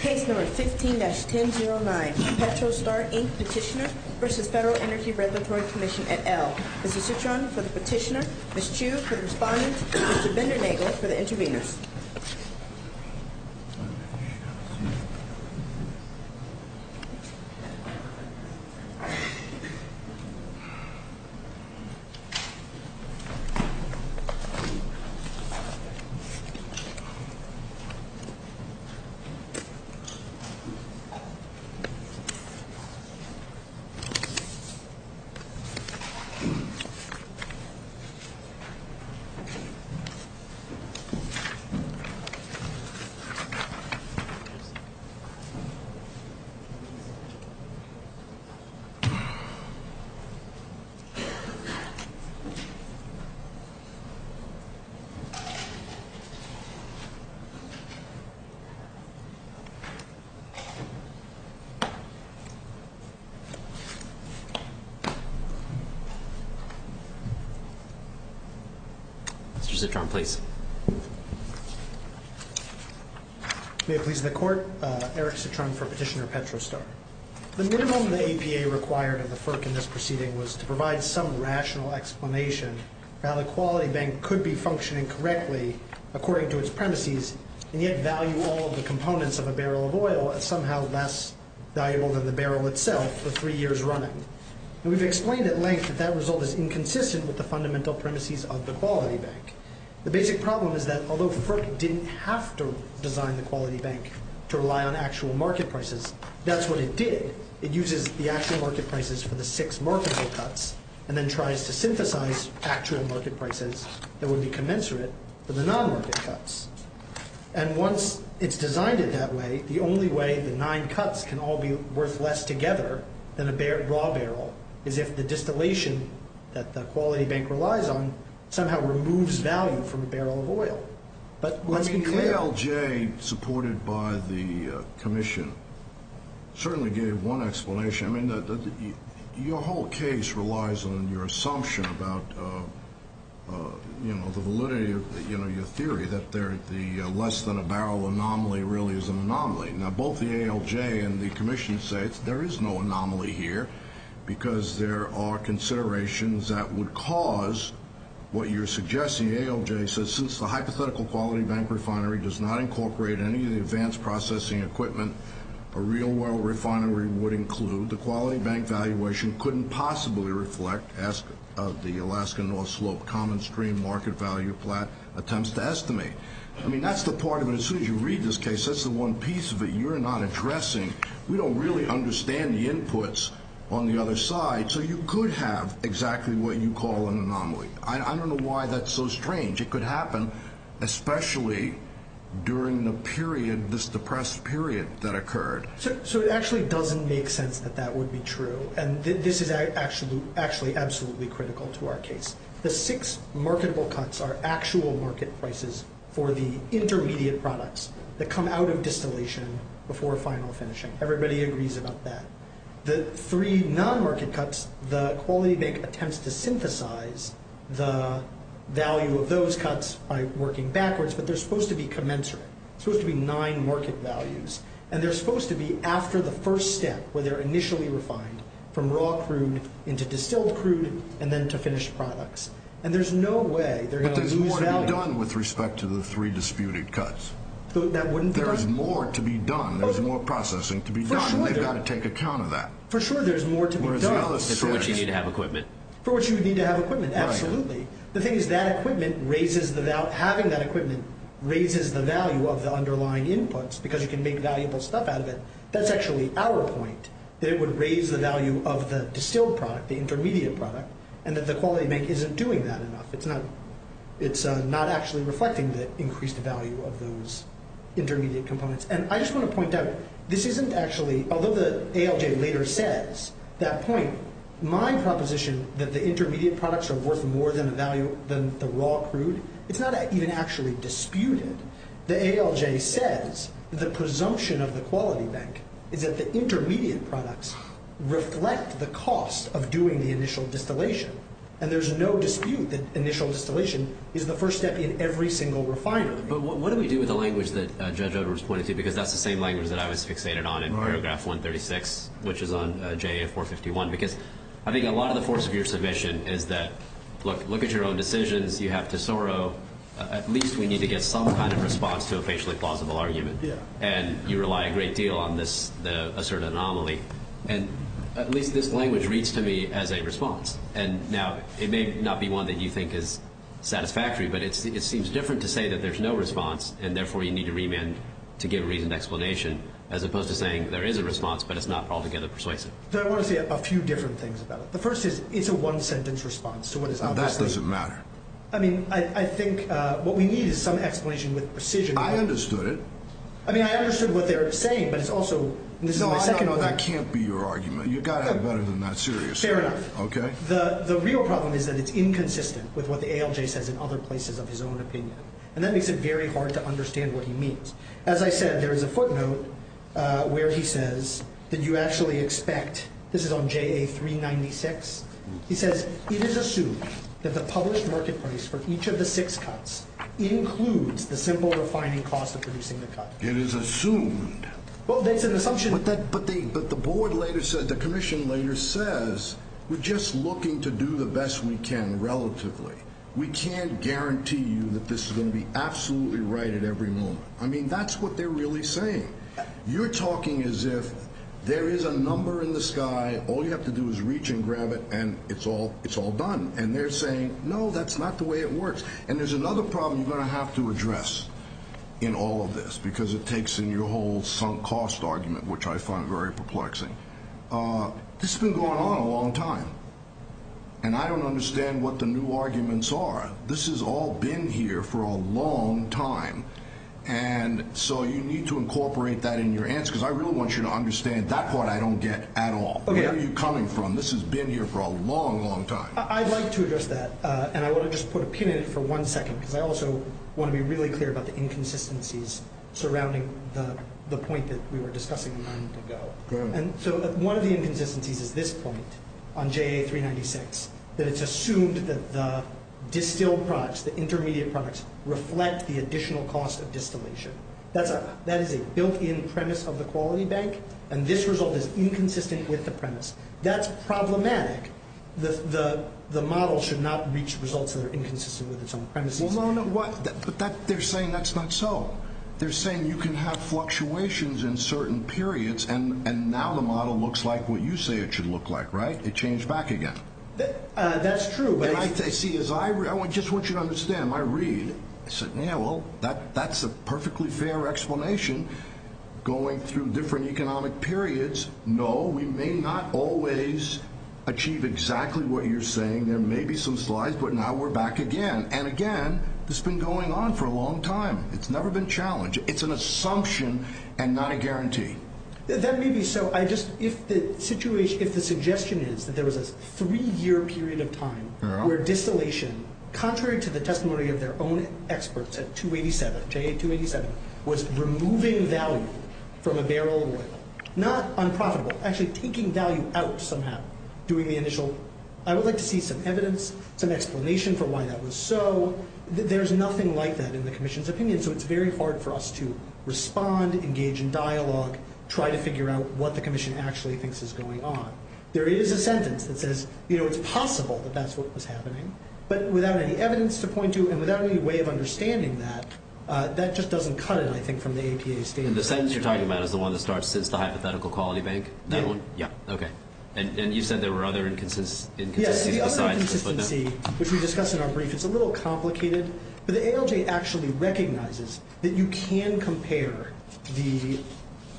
Case No. 15-1009 Petro Star Inc. Petitioner v. FEDERAL ENERGY REGULATORY COMMISSION, et al. Ms. Citron for the petitioner, Ms. Chu for the respondent, and Mr. Bender-Nagel for the intervenors. Mr. Bender-Nagel. Mr. Citron, please. May it please the Court, Eric Citron for Petitioner Petro Star. The minimum the APA required of the FERC in this proceeding was to provide some rational explanation for how the Quality Bank could be functioning correctly according to its premises, and yet value all of the components of a barrel of oil as somehow less valuable than the barrel itself for three years running. And we've explained at length that that result is inconsistent with the fundamental premises of the Quality Bank. The basic problem is that although FERC didn't have to design the Quality Bank to rely on it, it did. It uses the actual market prices for the six marketable cuts and then tries to synthesize actual market prices that would be commensurate for the non-market cuts. And once it's designed it that way, the only way the nine cuts can all be worth less together than a raw barrel is if the distillation that the Quality Bank relies on somehow removes value from a barrel of oil. The ALJ, supported by the Commission, certainly gave one explanation. Your whole case relies on your assumption about the validity of your theory that the less-than-a-barrel anomaly really is an anomaly. Now, both the ALJ and the Commission say there is no anomaly here because there are considerations that would cause what you're suggesting. The ALJ says, since the hypothetical Quality Bank refinery does not incorporate any of the advanced processing equipment, a real-world refinery would include. The Quality Bank valuation couldn't possibly reflect the Alaska North Slope Common Stream market value plan attempts to estimate. I mean, that's the part of it. As soon as you read this case, that's the one piece of it you're not addressing. We don't really understand the inputs on the other side. So you could have exactly what you call an anomaly. I don't know why that's so strange. It could happen, especially during the period, this depressed period that occurred. So it actually doesn't make sense that that would be true, and this is actually absolutely critical to our case. The six marketable cuts are actual market prices for the intermediate products that come out of distillation before final finishing. Everybody agrees about that. The three non-market cuts, the Quality Bank attempts to synthesize the value of those cuts by working backwards, but they're supposed to be commensurate. They're supposed to be nine market values, and they're supposed to be after the first step, where they're initially refined from raw crude into distilled crude and then to finished products. And there's no way they're going to lose value. But there's more to be done with respect to the three disputed cuts. That wouldn't be right. There's more to be done. There's more processing to be done. We've got to take account of that. For sure there's more to be done. For which you need to have equipment. For which you would need to have equipment, absolutely. The thing is that equipment raises the value, having that equipment raises the value of the underlying inputs, because you can make valuable stuff out of it. That's actually our point, that it would raise the value of the distilled product, the intermediate product, and that the Quality Bank isn't doing that enough. It's not actually reflecting the increased value of those intermediate components. And I just want to point out, this isn't actually, although the ALJ later says that point, my proposition that the intermediate products are worth more than the raw crude, it's not even actually disputed. The ALJ says the presumption of the Quality Bank is that the intermediate products reflect the cost of doing the initial distillation. And there's no dispute that initial distillation is the first step in every single refinery. But what do we do with the language that Judge Edwards pointed to, because that's the same language that I was fixated on in paragraph 136, which is on JA 451. Because I think a lot of the force of your submission is that, look at your own decisions, you have Tesoro, at least we need to get some kind of response to a facially plausible argument. And you rely a great deal on this, a certain anomaly. And at least this language reads to me as a response. And now, it may not be one that you think is satisfactory, but it seems different to say that there's no response, and therefore you need to remand to give a reasoned explanation, as opposed to saying there is a response, but it's not altogether persuasive. So I want to say a few different things about it. The first is, it's a one-sentence response to what is obviously— Now, that doesn't matter. I mean, I think what we need is some explanation with precision— I understood it. I mean, I understood what they're saying, but it's also— No, no, no, that can't be your argument. You've got to have better than that serious— Fair enough. The real problem is that it's inconsistent with what the ALJ says in other places of his own opinion. And that makes it very hard to understand what he means. As I said, there is a footnote where he says that you actually expect—this is on JA396. He says, it is assumed that the published market price for each of the six cuts includes the simple refining cost of producing the cut. It is assumed. Well, that's an assumption— But the board later said, the commission later says, we're just looking to do the best we can relatively. We can't guarantee you that this is going to be absolutely right at every moment. I mean, that's what they're really saying. You're talking as if there is a number in the sky, all you have to do is reach and grab it, and it's all done. And they're saying, no, that's not the way it works. And there's another problem you're going to have to address in all of this, because it takes in your whole sunk cost argument, which I find very perplexing. This has been going on a long time. And I don't understand what the new arguments are. This has all been here for a long time. And so you need to incorporate that in your answer, because I really want you to understand that part I don't get at all. Where are you coming from? This has been here for a long, long time. I'd like to address that, and I want to just put a pin in it for one second, because I also want to be really clear about the inconsistencies surrounding the point that we were discussing a moment ago. Go ahead. And so one of the inconsistencies is this point on JA396, that it's assumed that the distilled products, the intermediate products, reflect the additional cost of distillation. That is a built-in premise of the quality bank, and this result is inconsistent with the premise. That's problematic. The model should not reach results that are inconsistent with its own premises. But they're saying that's not so. They're saying you can have fluctuations in certain periods, and now the model looks like what you say it should look like, right? It changed back again. That's true. See, I just want you to understand. I read. I said, yeah, well, that's a perfectly fair explanation. Going through different economic periods, no, we may not always achieve exactly what you're saying. There may be some slides, but now we're back again. And, again, this has been going on for a long time. It's never been challenged. It's an assumption and not a guarantee. That may be so. If the suggestion is that there was a three-year period of time where distillation, contrary to the testimony of their own experts at 287, JA287, was removing value from a barrel of oil, not unprofitable, actually taking value out somehow, doing the initial. I would like to see some evidence, some explanation for why that was so. Well, there's nothing like that in the commission's opinion, so it's very hard for us to respond, engage in dialogue, try to figure out what the commission actually thinks is going on. There is a sentence that says, you know, it's possible that that's what was happening, but without any evidence to point to and without any way of understanding that, that just doesn't cut it, I think, from the APA statement. And the sentence you're talking about is the one that starts, since the hypothetical quality bank? Yeah. Okay. And you said there were other inconsistencies besides the footnote? Well, the inconsistency, which we discussed in our brief, is a little complicated, but the ALJ actually recognizes that you can compare the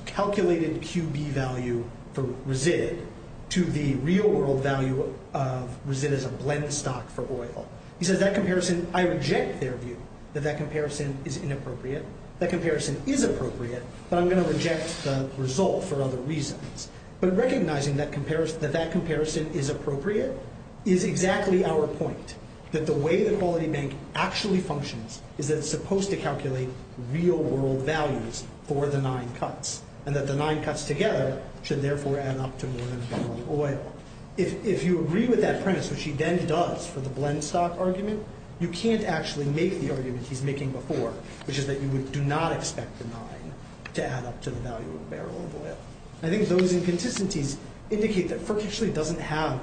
calculated QB value for resid to the real-world value of resid as a blend stock for oil. He says that comparison, I reject their view that that comparison is inappropriate. That comparison is appropriate, but I'm going to reject the result for other reasons. But recognizing that that comparison is appropriate is exactly our point, that the way the quality bank actually functions is that it's supposed to calculate real-world values for the nine cuts and that the nine cuts together should therefore add up to more than a barrel of oil. If you agree with that premise, which he then does for the blend stock argument, you can't actually make the argument he's making before, which is that you would do not expect the nine to add up to the value of a barrel of oil. I think those inconsistencies indicate that FERC actually doesn't have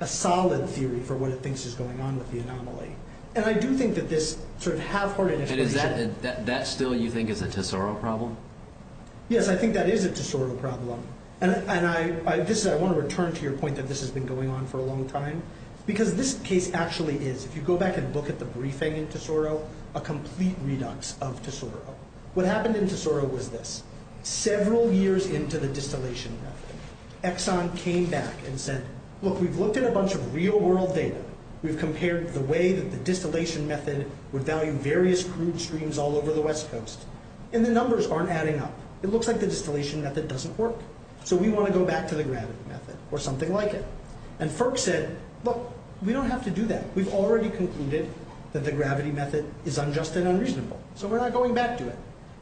a solid theory for what it thinks is going on with the anomaly. And I do think that this sort of half-hearted explanation... And is that still what you think is a Tesoro problem? Yes, I think that is a Tesoro problem. And I want to return to your point that this has been going on for a long time, because this case actually is, if you go back and look at the briefing in Tesoro, a complete redux of Tesoro. What happened in Tesoro was this. Several years into the distillation method, Exxon came back and said, look, we've looked at a bunch of real-world data. We've compared the way that the distillation method would value various crude streams all over the West Coast. And the numbers aren't adding up. It looks like the distillation method doesn't work. So we want to go back to the gravity method or something like it. And FERC said, look, we don't have to do that. We've already concluded that the gravity method is unjust and unreasonable. So we're not going back to it.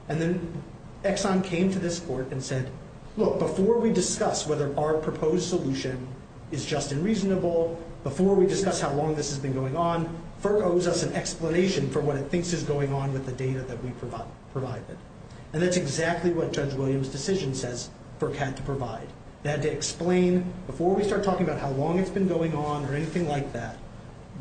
And then Exxon came to this court and said, look, before we discuss whether our proposed solution is just and reasonable, before we discuss how long this has been going on, FERC owes us an explanation for what it thinks is going on with the data that we provided. And that's exactly what Judge Williams' decision says FERC had to provide. They had to explain, before we start talking about how long it's been going on or anything like that,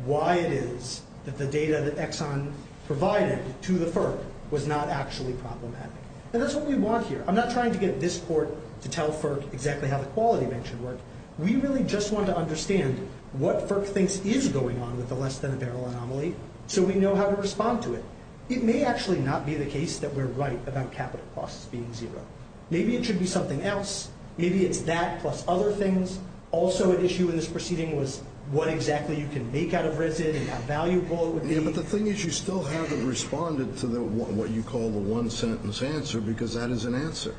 why it is that the data that Exxon provided to the FERC was not actually problematic. And that's what we want here. I'm not trying to get this court to tell FERC exactly how the quality bench should work. We really just want to understand what FERC thinks is going on with the less-than-a-barrel anomaly so we know how to respond to it. It may actually not be the case that we're right about capital costs being zero. Maybe it should be something else. Maybe it's that plus other things. Also an issue in this proceeding was what exactly you can make out of RISD and how valuable it would be. Yeah, but the thing is you still haven't responded to what you call the one-sentence answer because that is an answer.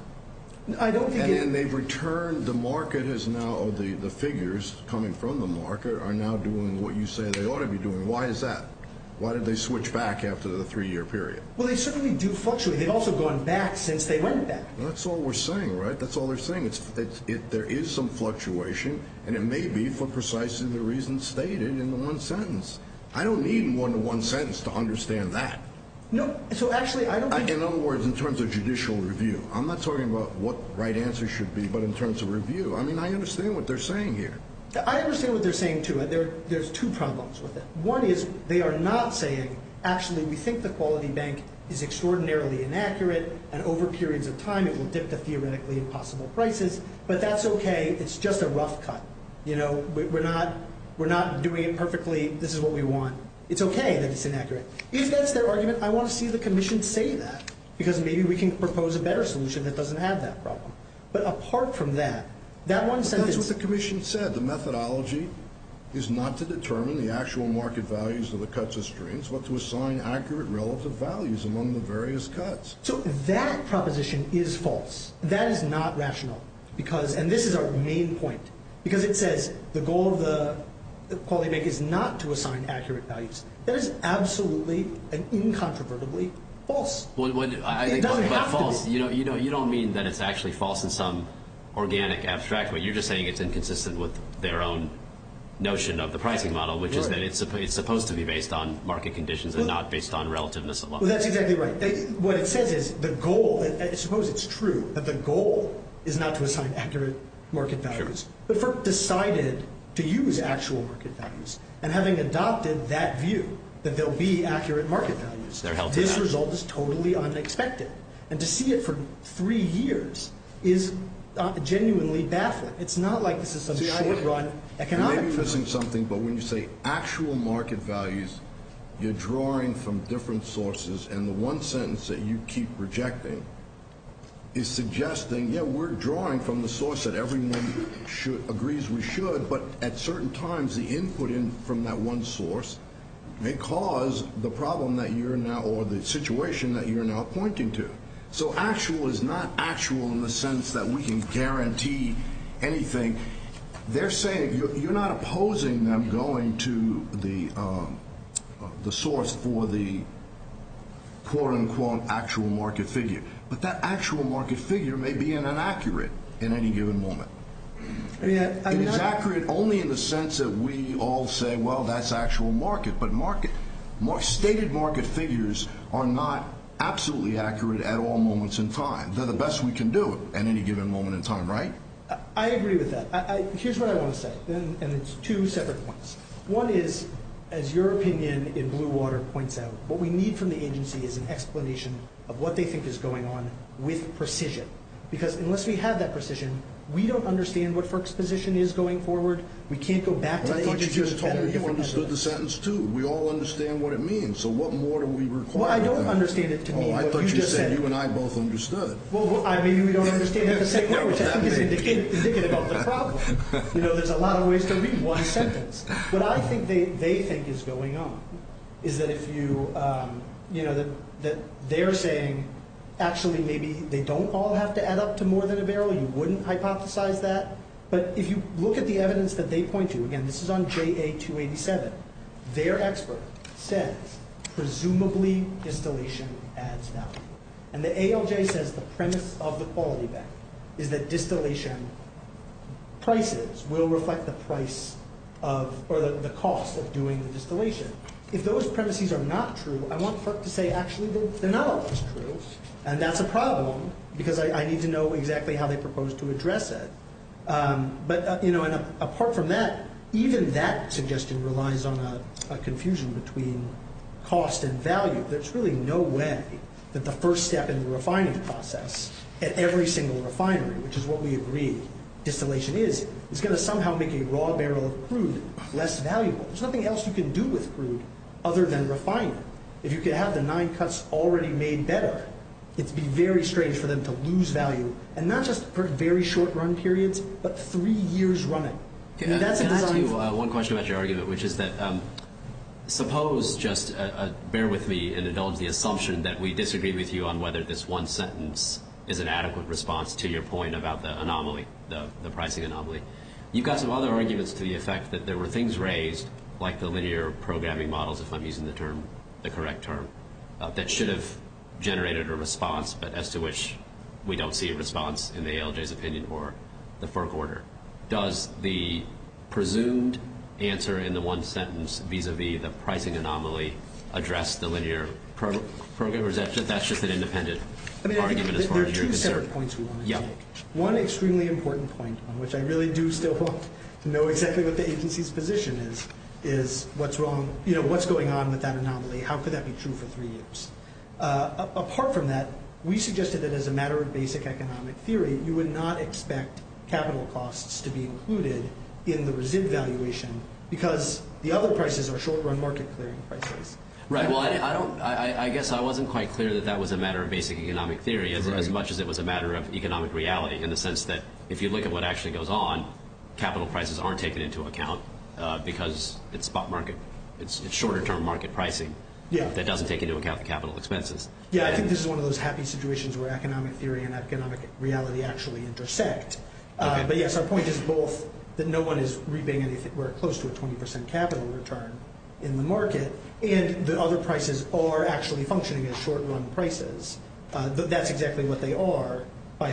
I don't think it is. And they've returned the market as now the figures coming from the market are now doing what you say they ought to be doing. Why is that? Why did they switch back after the three-year period? Well, they certainly do fluctuate. They've also gone back since they went back. That's all we're saying, right? That's all they're saying. There is some fluctuation, and it may be for precisely the reasons stated in the one-sentence. I don't need a one-to-one sentence to understand that. No, so actually I don't think— In other words, in terms of judicial review. I'm not talking about what the right answer should be, but in terms of review. I mean, I understand what they're saying here. I understand what they're saying, too. There's two problems with it. One is they are not saying, actually, we think the quality bank is extraordinarily inaccurate. And over periods of time, it will dip to theoretically impossible prices. But that's okay. It's just a rough cut. You know, we're not doing it perfectly. This is what we want. It's okay that it's inaccurate. If that's their argument, I want to see the commission say that. Because maybe we can propose a better solution that doesn't have that problem. But apart from that, that one sentence— But that's what the commission said. The methodology is not to determine the actual market values of the cuts or strains, but to assign accurate relative values among the various cuts. So that proposition is false. That is not rational. And this is our main point. Because it says the goal of the quality bank is not to assign accurate values. That is absolutely and incontrovertibly false. It doesn't have to be. But false, you don't mean that it's actually false in some organic abstract way. You're just saying it's inconsistent with their own notion of the pricing model, which is that it's supposed to be based on market conditions and not based on relativeness alone. Well, that's exactly right. What it says is the goal— I suppose it's true that the goal is not to assign accurate market values, but for deciding to use actual market values and having adopted that view that there will be accurate market values. This result is totally unexpected. And to see it for three years is genuinely baffling. It's not like this is some short-run economic— Maybe you're missing something, but when you say actual market values, you're drawing from different sources, and the one sentence that you keep rejecting is suggesting, yeah, we're drawing from the source that everyone agrees we should, but at certain times the input from that one source may cause the problem that you're now— So actual is not actual in the sense that we can guarantee anything. They're saying you're not opposing them going to the source for the quote-unquote actual market figure, but that actual market figure may be inaccurate in any given moment. It is accurate only in the sense that we all say, well, that's actual market, but stated market figures are not absolutely accurate at all moments in time. They're the best we can do at any given moment in time, right? I agree with that. Here's what I want to say, and it's two separate points. One is, as your opinion in Blue Water points out, what we need from the agency is an explanation of what they think is going on with precision, because unless we have that precision, we don't understand what FERC's position is going forward. Well, I thought you just told me you understood the sentence, too. We all understand what it means, so what more do we require? Well, I don't understand it to mean what you just said. Oh, I thought you said you and I both understood. Well, maybe we don't understand it to say where, which I think is indicative of the problem. You know, there's a lot of ways to read one sentence. What I think they think is going on is that if you— that they're saying actually maybe they don't all have to add up to more than a barrel. You wouldn't hypothesize that. But if you look at the evidence that they point to, again, this is on JA-287, their expert says presumably distillation adds value. And the ALJ says the premise of the quality bank is that distillation prices will reflect the price of— or the cost of doing the distillation. If those premises are not true, I want FERC to say actually they're not all true, and that's a problem because I need to know exactly how they propose to address it. But, you know, apart from that, even that suggestion relies on a confusion between cost and value. There's really no way that the first step in the refining process at every single refinery, which is what we agree distillation is, is going to somehow make a raw barrel of crude less valuable. There's nothing else you can do with crude other than refine it. If you could have the nine cuts already made better, it would be very strange for them to lose value, and not just for very short run periods, but three years running. Can I ask you one question about your argument, which is that suppose just bear with me in the assumption that we disagree with you on whether this one sentence is an adequate response to your point about the anomaly, the pricing anomaly. You've got some other arguments to the effect that there were things raised, like the linear programming models, if I'm using the term, the correct term, that should have generated a response, but as to which we don't see a response in the ALJ's opinion or the FERC order. Does the presumed answer in the one sentence vis-a-vis the pricing anomaly address the linear program, or is that just an independent argument as far as you're concerned? I mean, there are two separate points we want to take. One extremely important point, which I really do still want to know exactly what the agency's position is, is what's wrong, what's going on with that anomaly, how could that be true for three years? Apart from that, we suggested that as a matter of basic economic theory, you would not expect capital costs to be included in the resid valuation because the other prices are short run market clearing prices. I guess I wasn't quite clear that that was a matter of basic economic theory as much as it was a matter of economic reality in the sense that if you look at what actually goes on, capital prices aren't taken into account because it's short-term market pricing that doesn't take into account the capital expenses. Yeah, I think this is one of those happy situations where economic theory and economic reality actually intersect. But yes, our point is both that no one is reaping anywhere close to a 20% capital return in the market and the other prices are actually functioning as short-run prices. That's exactly what they are, not by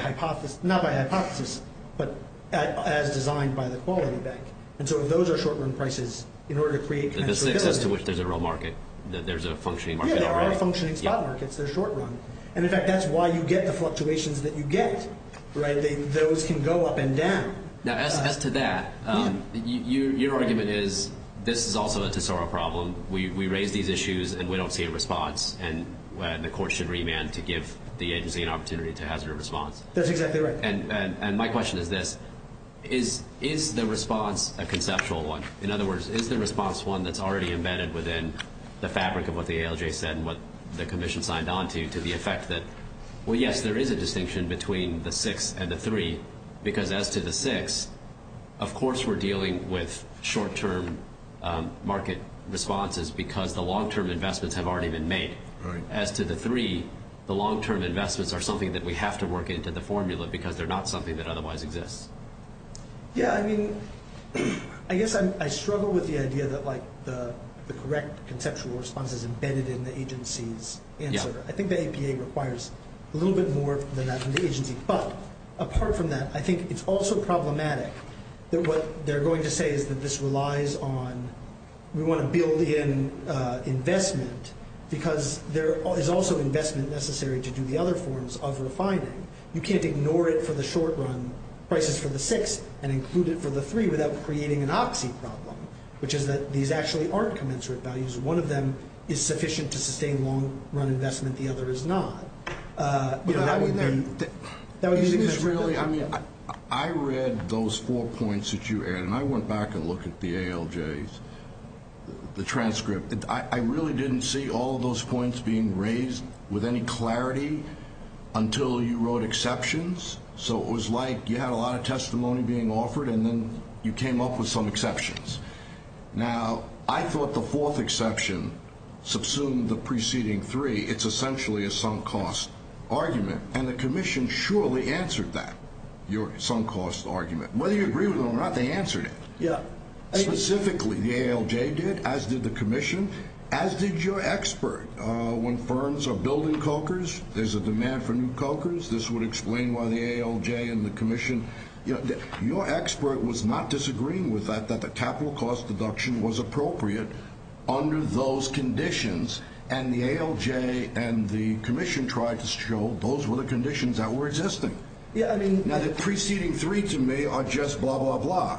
hypothesis, but as designed by the quality bank. And so if those are short-run prices, in order to create- That's as to which there's a real market, that there's a functioning market. Yeah, there are functioning spot markets that are short-run. And in fact, that's why you get the fluctuations that you get, right? Those can go up and down. Now, as to that, your argument is this is also a tesoro problem. We raise these issues and we don't see a response, and the court should remand to give the agency an opportunity to hazard a response. That's exactly right. And my question is this. Is the response a conceptual one? In other words, is the response one that's already embedded within the fabric of what the ALJ said and what the commission signed on to, to the effect that, well, yes, there is a distinction between the six and the three because as to the six, of course we're dealing with short-term market responses because the long-term investments have already been made. As to the three, the long-term investments are something that we have to work into the formula because they're not something that otherwise exists. Yeah, I mean, I guess I struggle with the idea that, like, the correct conceptual response is embedded in the agency's answer. I think the APA requires a little bit more than that from the agency. But apart from that, I think it's also problematic that what they're going to say is that this relies on we want to build in investment because there is also investment necessary to do the other forms of refining. You can't ignore it for the short-run prices for the six and include it for the three without creating an oxy problem, which is that these actually aren't commensurate values. One of them is sufficient to sustain long-run investment. The other is not. That would be the answer. Isn't this really, I mean, I read those four points that you added, and I went back and looked at the ALJs, the transcript. I really didn't see all of those points being raised with any clarity until you wrote exceptions. So it was like you had a lot of testimony being offered, and then you came up with some exceptions. Now, I thought the fourth exception subsumed the preceding three. It's essentially a sunk cost argument, and the Commission surely answered that, your sunk cost argument. Whether you agree with it or not, they answered it. Specifically, the ALJ did, as did the Commission, as did your expert. When firms are building cokers, there's a demand for new cokers. This would explain why the ALJ and the Commission, your expert was not disagreeing with that, that the capital cost deduction was appropriate under those conditions, and the ALJ and the Commission tried to show those were the conditions that were existing. Now, the preceding three to me are just blah, blah, blah.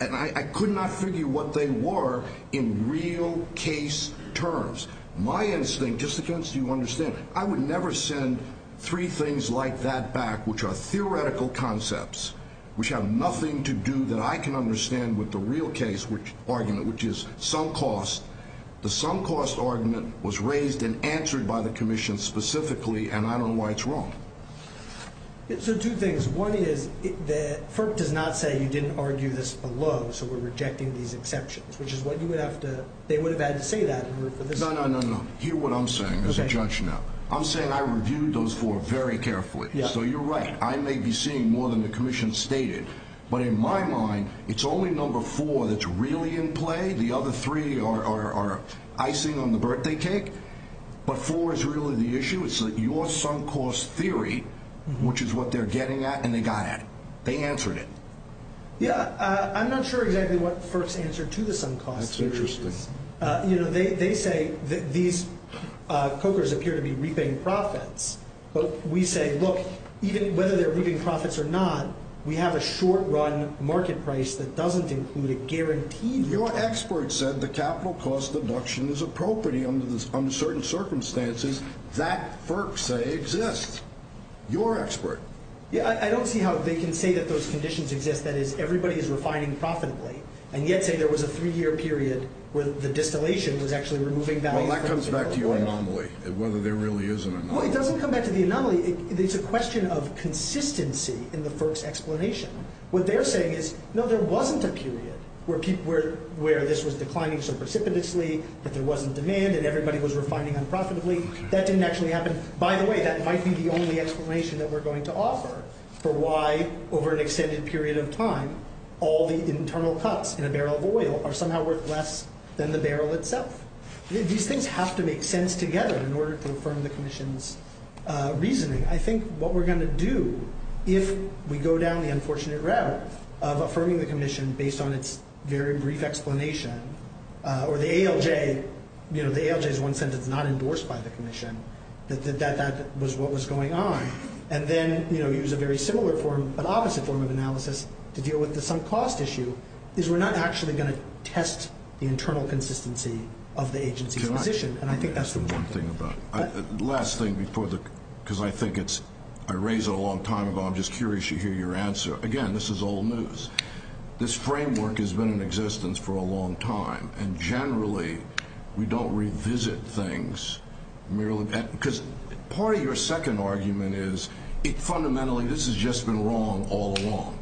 And I could not figure what they were in real case terms. My instinct, just so you understand, I would never send three things like that back, which are theoretical concepts, which have nothing to do that I can understand with the real case argument, which is sunk cost. The sunk cost argument was raised and answered by the Commission specifically, and I don't know why it's wrong. So two things. One is that FERC does not say you didn't argue this below, so we're rejecting these exceptions, which is what you would have to – they would have had to say that in order for this – No, no, no, no. Hear what I'm saying as a judge now. I'm saying I reviewed those four very carefully. So you're right. I may be seeing more than the Commission stated. But in my mind, it's only number four that's really in play. The other three are icing on the birthday cake. But four is really the issue. It's your sunk cost theory, which is what they're getting at and they got at. They answered it. Yeah. I'm not sure exactly what FERC's answer to the sunk cost theory is. That's interesting. You know, they say that these cokers appear to be reaping profits. But we say, look, even whether they're reaping profits or not, we have a short-run market price that doesn't include a guaranteed – Your expert said the capital cost deduction is appropriate under certain circumstances. That FERC say exists. Your expert. Yeah, I don't see how they can say that those conditions exist. That is, everybody is refining profitably. And yet say there was a three-year period where the distillation was actually removing – It doesn't come back to the anomaly. It's a question of consistency in the FERC's explanation. What they're saying is, no, there wasn't a period where this was declining so precipitously that there wasn't demand and everybody was refining unprofitably. That didn't actually happen. By the way, that might be the only explanation that we're going to offer for why, over an extended period of time, all the internal cuts in a barrel of oil are somehow worth less than the barrel itself. These things have to make sense together in order to affirm the Commission's reasoning. I think what we're going to do, if we go down the unfortunate route of affirming the Commission based on its very brief explanation, or the ALJ – the ALJ is one sentence not endorsed by the Commission – that that was what was going on, and then use a very similar form but opposite form of analysis to deal with the sunk cost issue, is we're not actually going to test the internal consistency of the agency's position. And I think that's the one thing about it. Last thing before the – because I think it's – I raised it a long time ago. I'm just curious to hear your answer. Again, this is old news. This framework has been in existence for a long time, and generally we don't revisit things merely – because part of your second argument is fundamentally this has just been wrong all along.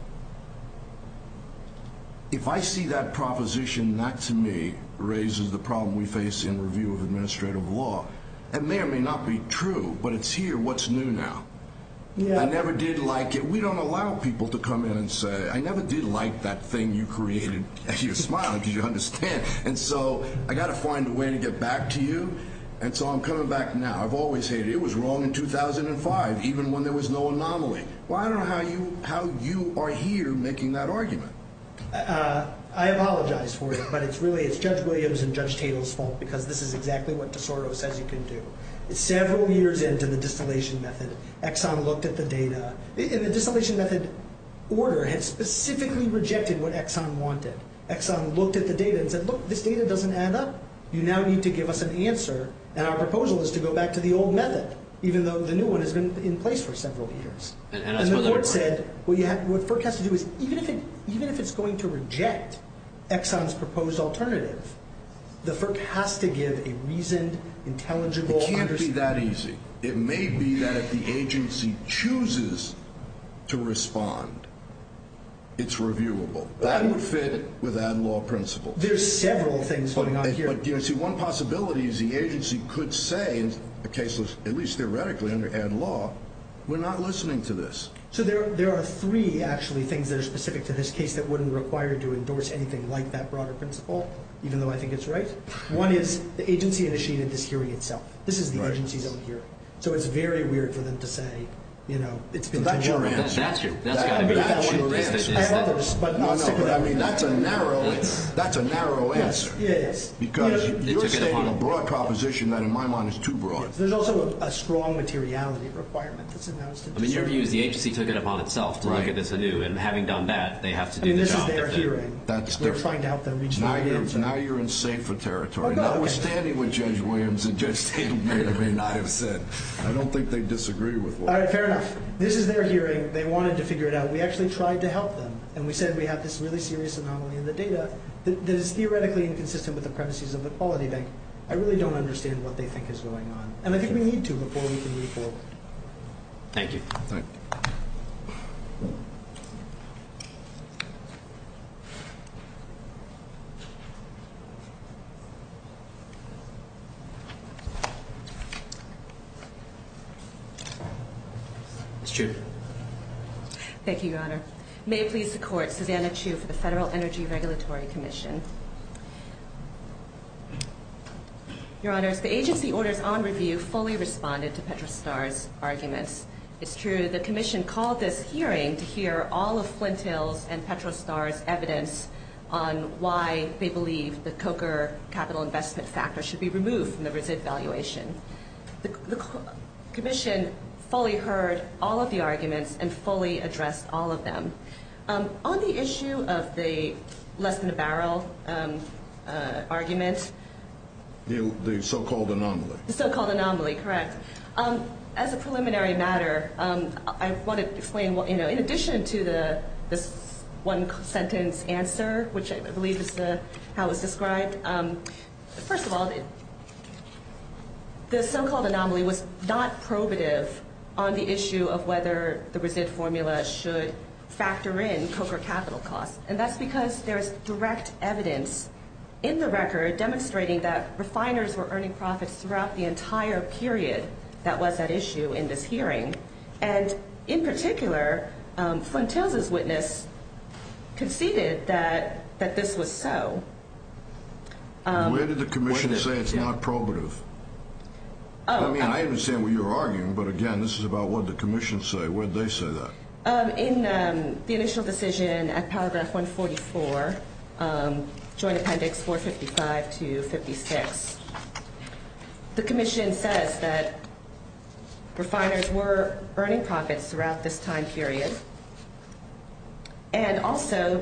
If I see that proposition not to me raises the problem we face in review of administrative law, it may or may not be true, but it's here. What's new now? I never did like it. We don't allow people to come in and say, I never did like that thing you created. You're smiling because you understand. And so I've got to find a way to get back to you, and so I'm coming back now. I've always hated it. It was wrong in 2005, even when there was no anomaly. Well, I don't know how you are here making that argument. I apologize for it, but it's really – it's Judge Williams and Judge Tatel's fault because this is exactly what DeSoto says you can do. Several years into the distillation method, Exxon looked at the data. And the distillation method order had specifically rejected what Exxon wanted. Exxon looked at the data and said, look, this data doesn't add up. You now need to give us an answer, and our proposal is to go back to the old method, even though the new one has been in place for several years. And the court said, what FERC has to do is, even if it's going to reject Exxon's proposed alternative, the FERC has to give a reasoned, intelligible understanding. It can't be that easy. It may be that if the agency chooses to respond, it's reviewable. That would fit with that law principle. There's several things going on here. But, you know, see, one possibility is the agency could say, in a case that's at least theoretically under Ed Law, we're not listening to this. So there are three, actually, things that are specific to this case that wouldn't require you to endorse anything like that broader principle, even though I think it's right. One is the agency initiated this hearing itself. This is the agency's own hearing. So it's very weird for them to say, you know, it's been too long. That's your answer. That's got to be the one we're answering. I have others, but I'll stick with that one. I mean, that's a narrow answer. Yes, it is. Because you're saying a broad proposition that, in my mind, is too broad. There's also a strong materiality requirement that's announced. I mean, your view is the agency took it upon itself to look at this anew, and having done that, they have to do the job that they're doing. I mean, this is their hearing. That's different. We're trying to help them reach the right answer. Now you're in safer territory. Notwithstanding what Judge Williams and Judge Tatum may or may not have said, I don't think they disagree with what we're saying. All right, fair enough. This is their hearing. They wanted to figure it out. We actually tried to help them. And we said we have this really serious anomaly in the data that is theoretically inconsistent with the premises of the Quality Bank. I really don't understand what they think is going on. And I think we need to before we can move forward. Thank you. Ms. June. Thank you, Your Honor. May it please the Court, Susanna Chu for the Federal Energy Regulatory Commission. Your Honors, the agency orders on review fully responded to Petrostar's arguments. It's true the commission called this hearing to hear all of Flint Hill's and Petrostar's evidence on why they believe the COCR capital investment factor should be removed from the RISD valuation. The commission fully heard all of the arguments and fully addressed all of them. On the issue of the less than a barrel argument. The so-called anomaly. The so-called anomaly, correct. As a preliminary matter, I want to explain, in addition to this one-sentence answer, which I believe is how it was described. First of all, the so-called anomaly was not probative on the issue of whether the RISD formula should factor in COCR capital costs. And that's because there's direct evidence in the record demonstrating that refiners were earning profits throughout the entire period that was at issue in this hearing. And in particular, Flint Hills's witness conceded that this was so. Where did the commission say it's not probative? I mean, I understand what you're arguing, but again, this is about what the commission said. Where did they say that? In the initial decision at paragraph 144, joint appendix 455 to 56, the commission says that refiners were earning profits throughout this time period. And also,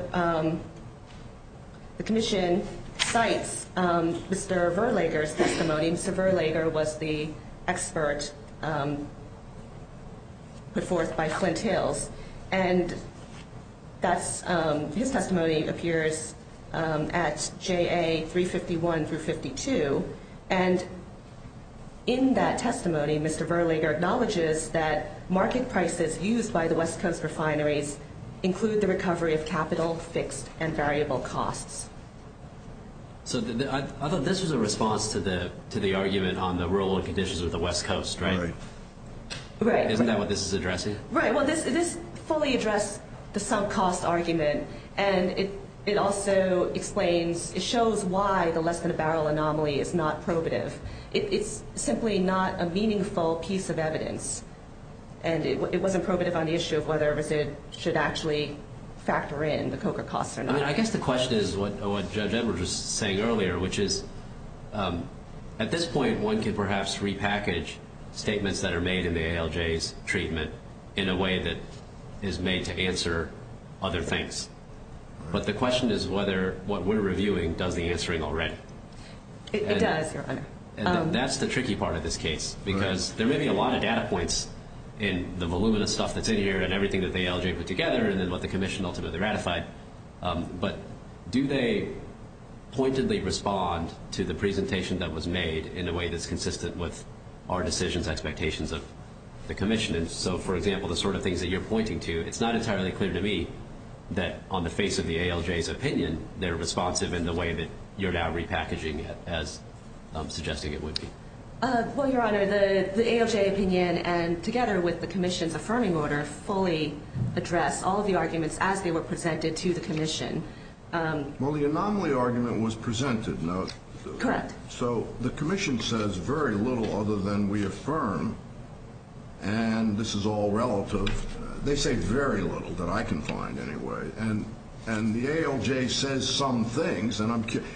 the commission cites Mr. Verlager's testimony. Mr. Verlager was the expert put forth by Flint Hills. And his testimony appears at JA 351 through 52. And in that testimony, Mr. Verlager acknowledges that market prices used by the West Coast refineries include the recovery of capital, fixed, and variable costs. So I thought this was a response to the argument on the rural conditions of the West Coast, right? Isn't that what this is addressing? Right. Well, this fully addressed the sunk cost argument. And it also explains, it shows why the less-than-a-barrel anomaly is not probative. It's simply not a meaningful piece of evidence. And it wasn't probative on the issue of whether it should actually factor in the COCA costs or not. I mean, I guess the question is what Judge Edwards was saying earlier, which is at this point, one can perhaps repackage statements that are made in the ALJ's treatment in a way that is made to answer other things. But the question is whether what we're reviewing does the answering already. It does, Your Honor. And that's the tricky part of this case, because there may be a lot of data points in the voluminous stuff that's in here and everything that the ALJ put together and then what the commission ultimately ratified. But do they pointedly respond to the presentation that was made in a way that's consistent with our decisions and expectations of the commission? And so, for example, the sort of things that you're pointing to, it's not entirely clear to me that on the face of the ALJ's opinion, they're responsive in the way that you're now repackaging it as suggesting it would be. Well, Your Honor, the ALJ opinion, and together with the commission's affirming order, does not fully address all of the arguments as they were presented to the commission. Well, the anomaly argument was presented, no? Correct. So the commission says very little other than we affirm, and this is all relative. They say very little that I can find anyway. And the ALJ says some things, and I'm curious.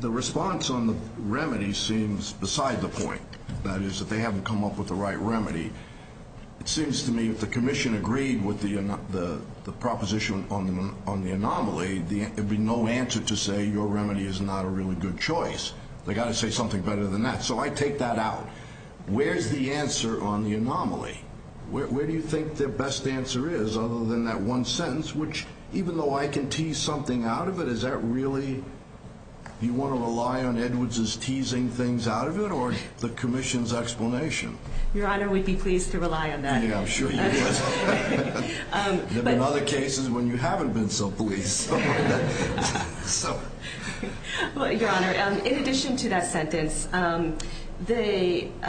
The response on the remedy seems beside the point. That is, that they haven't come up with the right remedy. It seems to me if the commission agreed with the proposition on the anomaly, there would be no answer to say your remedy is not a really good choice. They've got to say something better than that. So I take that out. Where is the answer on the anomaly? Where do you think the best answer is other than that one sentence, which even though I can tease something out of it, is that really? Do you want to rely on Edwards' teasing things out of it or the commission's explanation? Your Honor, we'd be pleased to rely on that. Yeah, I'm sure you would. There have been other cases when you haven't been so pleased. Your Honor, in addition to that sentence, they –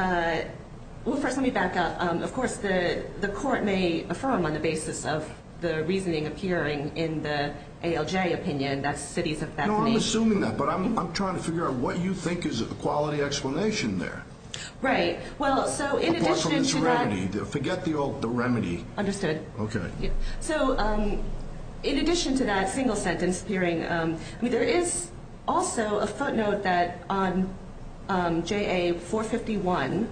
well, first let me back up. Of course, the court may affirm on the basis of the reasoning appearing in the ALJ opinion, that's the cities of Bethany. No, I'm assuming that, but I'm trying to figure out what you think is a quality explanation there. Right. Well, so in addition to that – Apart from this remedy. Forget the remedy. Understood. Okay. So in addition to that single sentence appearing, I mean there is also a footnote that on JA 451,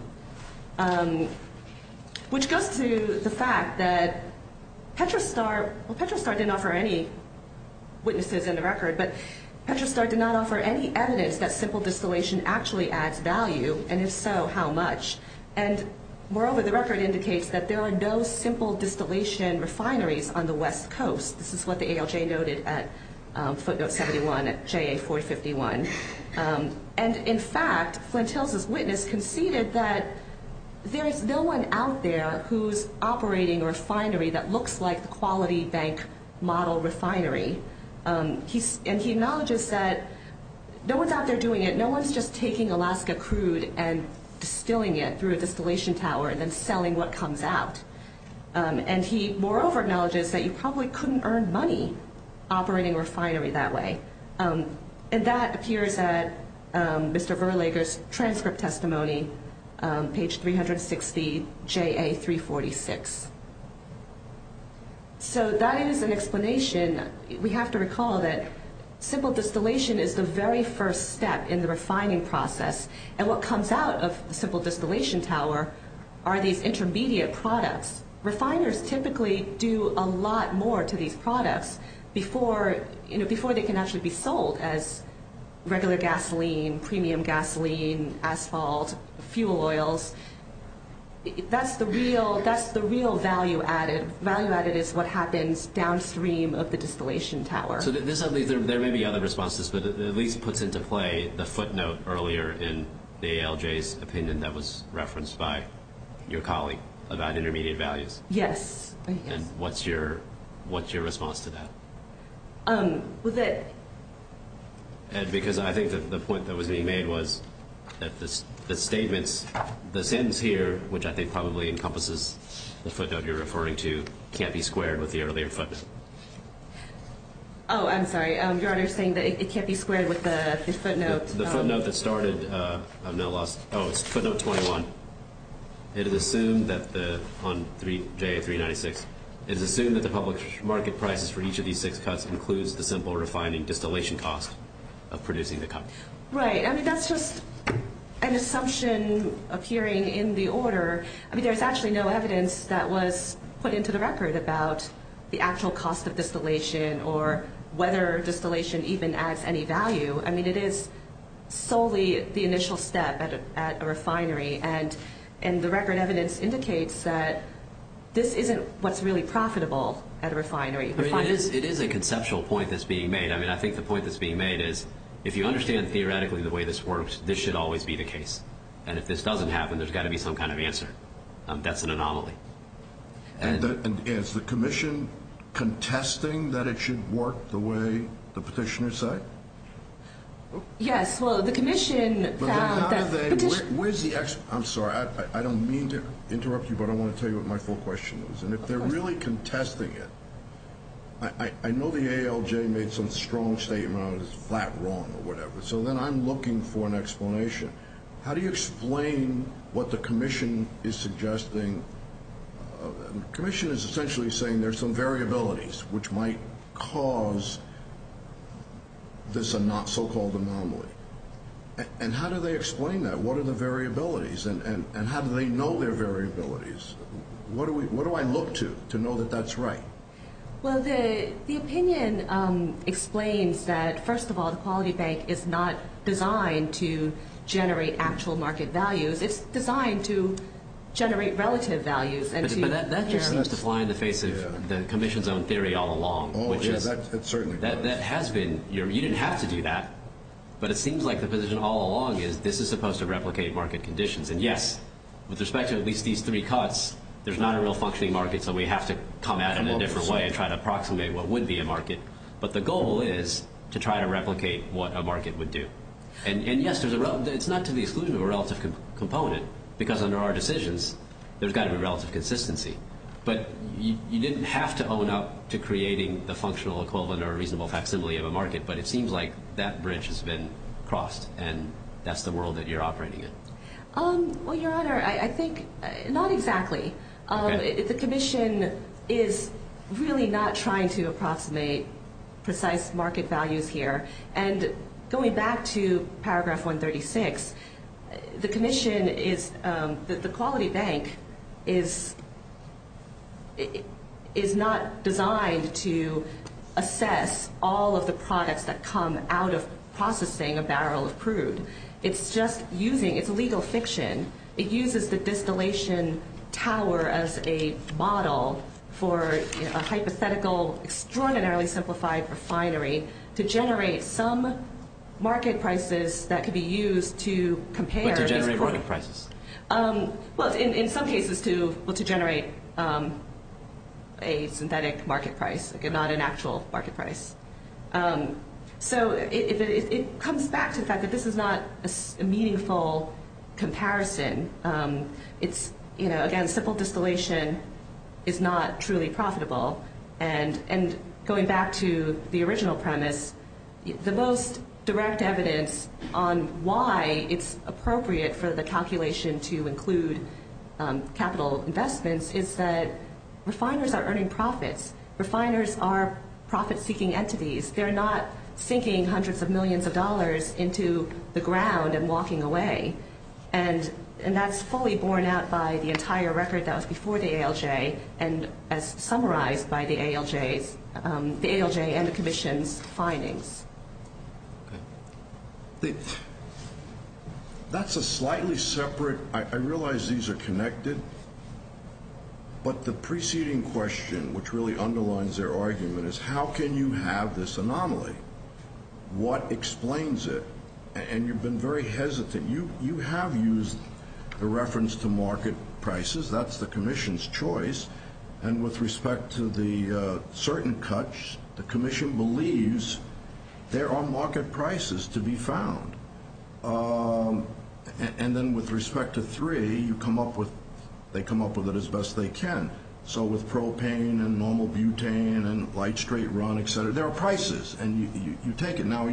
which goes to the fact that Petra Star – well, Petra Star didn't offer any witnesses in the record, but Petra Star did not offer any evidence that simple distillation actually adds value, and if so, how much. And moreover, the record indicates that there are no simple distillation refineries on the West Coast. This is what the ALJ noted at footnote 71 at JA 451. And in fact, Flint Hills' witness conceded that there is no one out there who's operating a refinery that looks like the quality bank model refinery. And he acknowledges that no one's out there doing it. No one's just taking Alaska crude and distilling it through a distillation tower and then selling what comes out. And he moreover acknowledges that you probably couldn't earn money operating a refinery that way. And that appears at Mr. Verlager's transcript testimony, page 360, JA 346. So that is an explanation. We have to recall that simple distillation is the very first step in the refining process, and what comes out of the simple distillation tower are these intermediate products. Refiners typically do a lot more to these products before they can actually be sold as regular gasoline, premium gasoline, asphalt, fuel oils. That's the real value added. The value added is what happens downstream of the distillation tower. So there may be other responses, but it at least puts into play the footnote earlier in the ALJ's opinion that was referenced by your colleague about intermediate values. Yes. And what's your response to that? Because I think the point that was being made was that the statements, the sentence here, which I think probably encompasses the footnote you're referring to, can't be squared with the earlier footnote. Oh, I'm sorry. Your Honor is saying that it can't be squared with the footnote. The footnote that started, I've now lost, oh, it's footnote 21. It is assumed that the, on JA 396, it is assumed that the public market prices for each of these six cuts includes the simple refining distillation cost of producing the cut. Right. I mean, that's just an assumption appearing in the order. I mean, there's actually no evidence that was put into the record about the actual cost of distillation or whether distillation even adds any value. I mean, it is solely the initial step at a refinery, and the record evidence indicates that this isn't what's really profitable at a refinery. It is a conceptual point that's being made. I mean, I think the point that's being made is if you understand theoretically the way this works, this should always be the case. And if this doesn't happen, there's got to be some kind of answer. That's an anomaly. And is the commission contesting that it should work the way the petitioner said? Yes. Well, the commission that petitioned. I'm sorry. I don't mean to interrupt you, but I want to tell you what my full question is. And if they're really contesting it, I know the ALJ made some strong statement on it. It's that wrong or whatever. So then I'm looking for an explanation. How do you explain what the commission is suggesting? The commission is essentially saying there's some variabilities which might cause this so-called anomaly. And how do they explain that? What are the variabilities? And how do they know they're variabilities? What do I look to to know that that's right? Well, the opinion explains that, first of all, the Quality Bank is not designed to generate actual market values. It's designed to generate relative values. But that just seems to fly in the face of the commission's own theory all along. Oh, yeah, that certainly does. That has been. You didn't have to do that. But it seems like the position all along is this is supposed to replicate market conditions. And, yes, with respect to at least these three cuts, there's not a real functioning market. So we have to come at it in a different way and try to approximate what would be a market. But the goal is to try to replicate what a market would do. And, yes, it's not to the exclusion of a relative component because under our decisions, there's got to be relative consistency. But you didn't have to own up to creating the functional equivalent or reasonable facsimile of a market. But it seems like that bridge has been crossed and that's the world that you're operating in. Well, Your Honor, I think not exactly. The commission is really not trying to approximate precise market values here. And going back to Paragraph 136, the commission is the Quality Bank is not designed to assess all of the products that come out of processing a barrel of crude. It's just using its legal fiction. It uses the distillation tower as a model for a hypothetical, extraordinarily simplified refinery to generate some market prices that could be used to compare. To generate market prices. Well, in some cases to generate a synthetic market price, not an actual market price. So it comes back to the fact that this is not a meaningful comparison. It's, you know, again, simple distillation is not truly profitable. And going back to the original premise, the most direct evidence on why it's appropriate for the calculation to include capital investments is that refiners are earning profits. Refiners are profit-seeking entities. They're not sinking hundreds of millions of dollars into the ground and walking away. And that's fully borne out by the entire record that was before the ALJ and as summarized by the ALJ and the commission's findings. That's a slightly separate. I realize these are connected. But the preceding question, which really underlines their argument, is how can you have this anomaly? What explains it? And you've been very hesitant. You have used the reference to market prices. That's the commission's choice. And with respect to the certain cuts, the commission believes there are market prices to be found. And then with respect to three, you come up with they come up with it as best they can. So with propane and normal butane and light straight run, et cetera, there are prices. And you take it. Are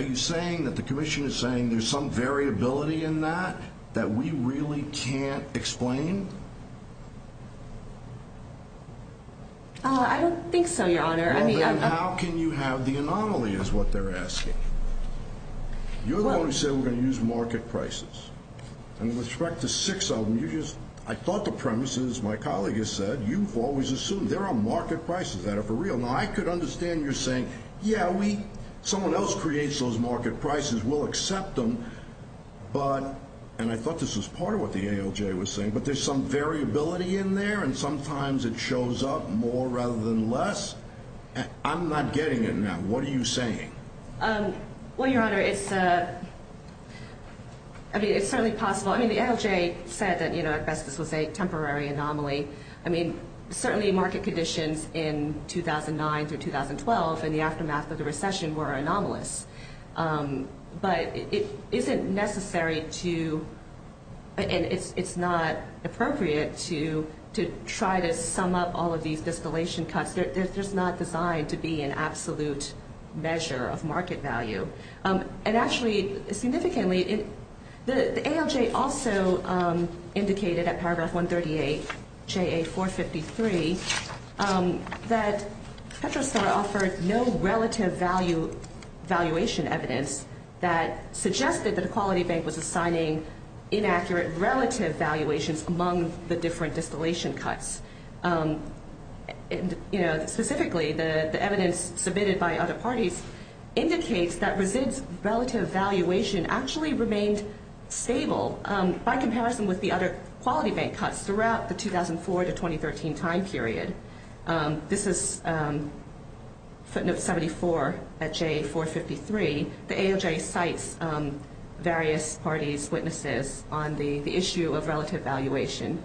you saying that the commission is saying there's some variability in that that we really can't explain? I don't think so, Your Honor. How can you have the anomaly is what they're asking. You're the one who said we're going to use market prices. And with respect to six of them, I thought the premise is, my colleague has said, you've always assumed there are market prices that are for real. Now, I could understand you're saying, yeah, someone else creates those market prices. We'll accept them. And I thought this was part of what the ALJ was saying. But there's some variability in there, and sometimes it shows up more rather than less. I'm not getting it now. What are you saying? Well, Your Honor, it's certainly possible. I mean, the ALJ said that, at best, this was a temporary anomaly. I mean, certainly market conditions in 2009 through 2012 in the aftermath of the recession were anomalous. But it isn't necessary to, and it's not appropriate to try to sum up all of these distillation cuts. They're just not designed to be an absolute measure of market value. And actually, significantly, the ALJ also indicated at paragraph 138, J.A. 453, that Petrostar offered no relative valuation evidence that suggested that a quality bank was assigning inaccurate relative valuations among the different distillation cuts. Specifically, the evidence submitted by other parties indicates that Resid's relative valuation actually remained stable by comparison with the other quality bank cuts throughout the 2004 to 2013 time period. This is footnote 74 at J.A. 453. The ALJ cites various parties' witnesses on the issue of relative valuation.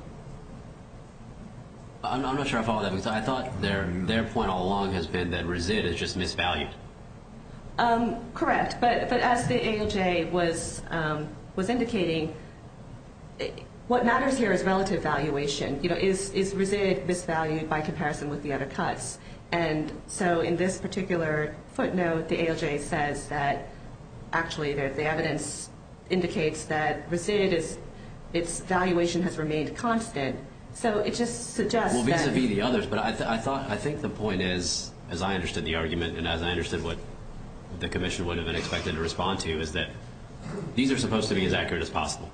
I'm not sure I follow that, because I thought their point all along has been that Resid is just misvalued. Correct. But as the ALJ was indicating, what matters here is relative valuation. Is Resid misvalued by comparison with the other cuts? And so in this particular footnote, the ALJ says that actually the evidence indicates that Resid's valuation has remained constant. So it just suggests that— Well, vis-à-vis the others. But I think the point is, as I understood the argument and as I understood what the commission would have been expected to respond to, is that these are supposed to be as accurate as possible.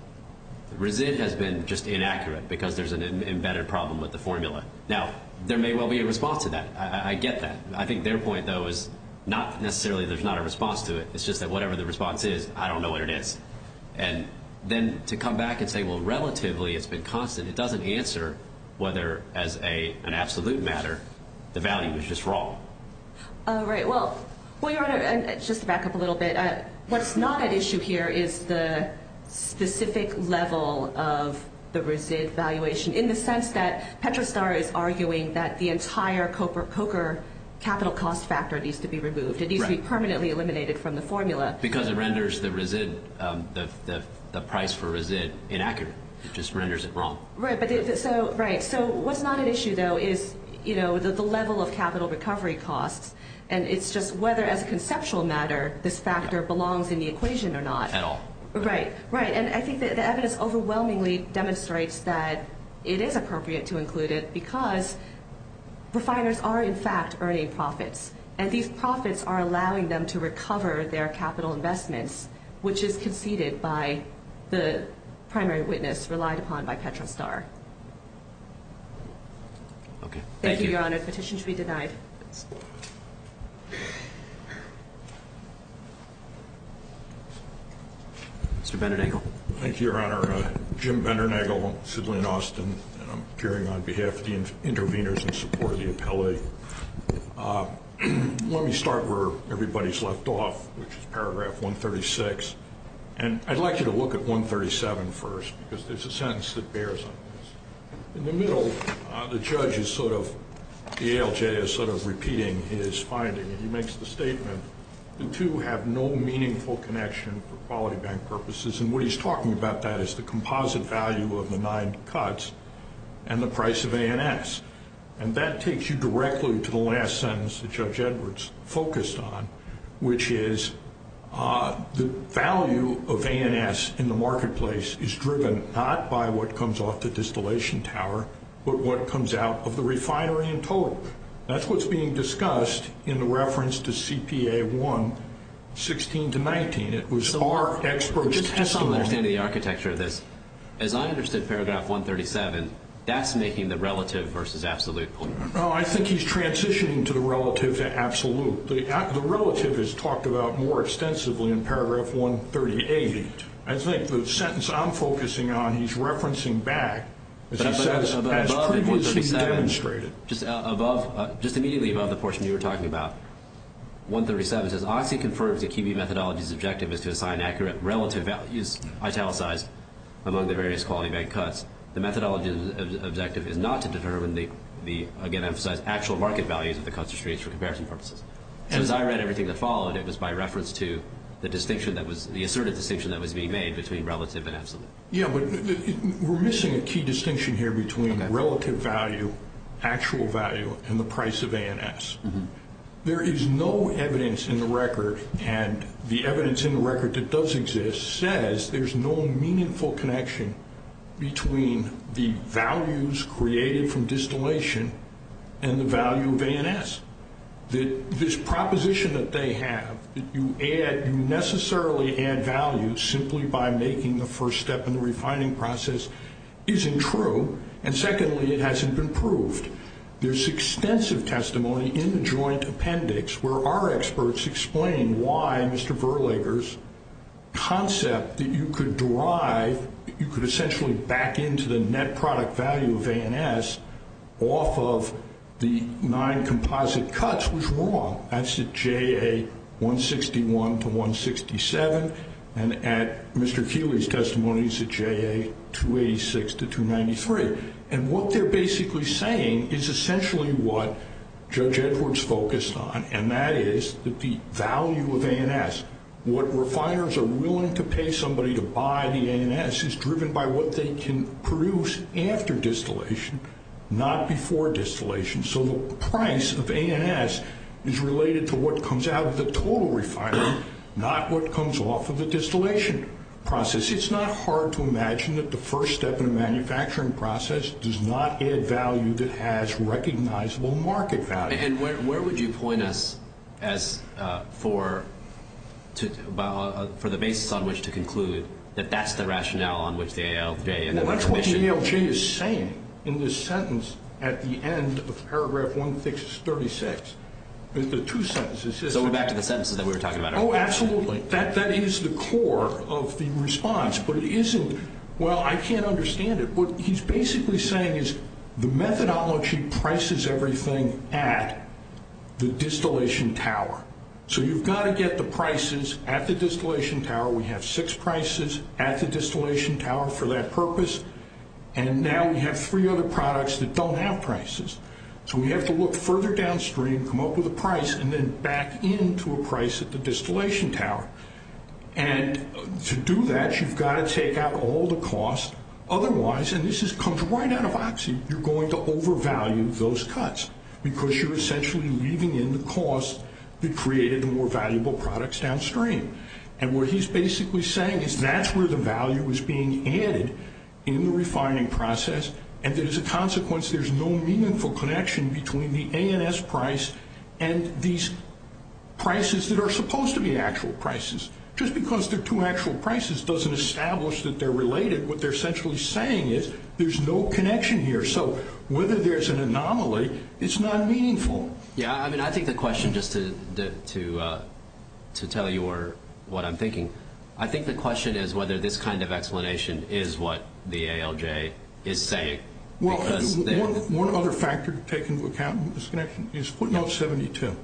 Resid has been just inaccurate because there's an embedded problem with the formula. Now, there may well be a response to that. I get that. I think their point, though, is not necessarily there's not a response to it. It's just that whatever the response is, I don't know what it is. And then to come back and say, well, relatively it's been constant, it doesn't answer whether, as an absolute matter, the value is just wrong. Right. Well, Your Honor, just to back up a little bit, what's not at issue here is the specific level of the Resid valuation, in the sense that Petrostar is arguing that the entire Coker capital cost factor needs to be removed. It needs to be permanently eliminated from the formula. Because it renders the price for Resid inaccurate. It just renders it wrong. Right. So what's not at issue, though, is the level of capital recovery costs, and it's just whether, as a conceptual matter, this factor belongs in the equation or not. At all. Right. And I think the evidence overwhelmingly demonstrates that it is appropriate to include it because refiners are, in fact, earning profits, and these profits are allowing them to recover their capital investments, which is conceded by the primary witness relied upon by Petrostar. Okay. The petition should be denied. Mr. Vendernagel. Thank you, Your Honor. Jim Vendernagel, Sidley & Austin, and I'm appearing on behalf of the interveners in support of the appellee. Let me start where everybody's left off, which is paragraph 136. And I'd like you to look at 137 first because there's a sentence that bears on this. In the middle, the judge is sort of, the ALJ is sort of repeating his finding, and he makes the statement, the two have no meaningful connection for quality bank purposes, and what he's talking about that is the composite value of the nine cuts and the price of ANS. And that takes you directly to the last sentence that Judge Edwards focused on, which is the value of ANS in the marketplace is driven not by what comes off the distillation tower, but what comes out of the refinery in total. That's what's being discussed in the reference to CPA 1, 16 to 19. It was our expert's testimony. Just to have some understanding of the architecture of this, as I understood paragraph 137, that's making the relative versus absolute point. No, I think he's transitioning to the relative to absolute. The relative is talked about more extensively in paragraph 138. I think the sentence I'm focusing on he's referencing back, as he says, as previously demonstrated. Just immediately above the portion you were talking about, 137 says, Oxy confirms that QB methodology's objective is to assign accurate relative values italicized among the various quality bank cuts. The methodology's objective is not to determine the, again, As I read everything that followed, it was by reference to the asserted distinction that was being made between relative and absolute. Yeah, but we're missing a key distinction here between relative value, actual value, and the price of ANS. There is no evidence in the record, and the evidence in the record that does exist, says there's no meaningful connection between the values created from distillation and the value of ANS. This proposition that they have, that you necessarily add value simply by making the first step in the refining process, isn't true. And secondly, it hasn't been proved. There's extensive testimony in the joint appendix where our experts explain why Mr. Verlager's concept that you could derive, you could essentially back into the net product value of ANS off of the nine composite cuts was wrong. That's at JA 161 to 167, and at Mr. Keeley's testimony, it's at JA 286 to 293. And what they're basically saying is essentially what Judge Edwards focused on, and that is that the value of ANS, what refiners are willing to pay somebody to buy the ANS, is driven by what they can produce after distillation, not before distillation. So the price of ANS is related to what comes out of the total refinery, not what comes off of the distillation process. It's not hard to imagine that the first step in a manufacturing process does not add value that has recognizable market value. And where would you point us as for the basis on which to conclude that that's the rationale on which the ALJ and other commissioners- Well, that's what the ALJ is saying in this sentence at the end of paragraph 136. The two sentences- So we're back to the sentences that we were talking about earlier. Oh, absolutely. That is the core of the response, but it isn't-well, I can't understand it. What he's basically saying is the methodology prices everything at the distillation tower. So you've got to get the prices at the distillation tower. We have six prices at the distillation tower for that purpose, and now we have three other products that don't have prices. So we have to look further downstream, come up with a price, and then back into a price at the distillation tower. And to do that, you've got to take out all the costs. Otherwise, and this comes right out of Oxy, you're going to overvalue those cuts because you're essentially leaving in the costs that created the more valuable products downstream. And what he's basically saying is that's where the value is being added in the refining process, and that as a consequence, there's no meaningful connection between the ANS price and these prices that are supposed to be actual prices. Just because they're two actual prices doesn't establish that they're related. What they're essentially saying is there's no connection here. So whether there's an anomaly, it's not meaningful. Yeah, I mean, I think the question, just to tell you what I'm thinking, I think the question is whether this kind of explanation is what the ALJ is saying. Well, one other factor to take into account in this connection is footnote 72.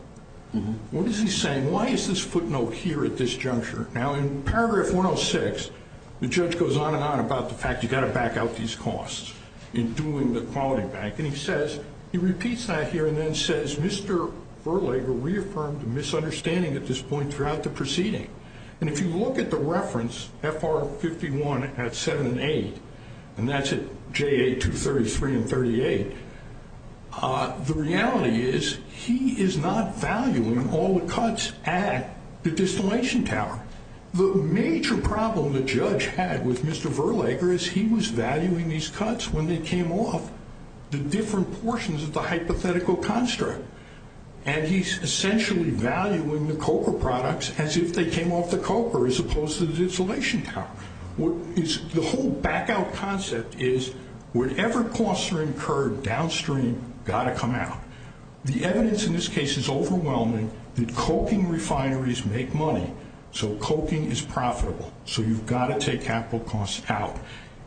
What is he saying? Why is this footnote here at this juncture? Now, in paragraph 106, the judge goes on and on about the fact you've got to back out these costs in doing the quality bank. And he says, he repeats that here and then says, Mr. Verlager reaffirmed a misunderstanding at this point throughout the proceeding. And if you look at the reference, FR 51 at 7 and 8, and that's at JA 233 and 38, the reality is he is not valuing all the cuts at the distillation tower. The major problem the judge had with Mr. Verlager is he was valuing these cuts when they came off the different portions of the hypothetical construct. And he's essentially valuing the coca products as if they came off the coca as opposed to the distillation tower. The whole back out concept is whatever costs are incurred downstream got to come out. The evidence in this case is overwhelming that coking refineries make money. So coking is profitable. So you've got to take capital costs out.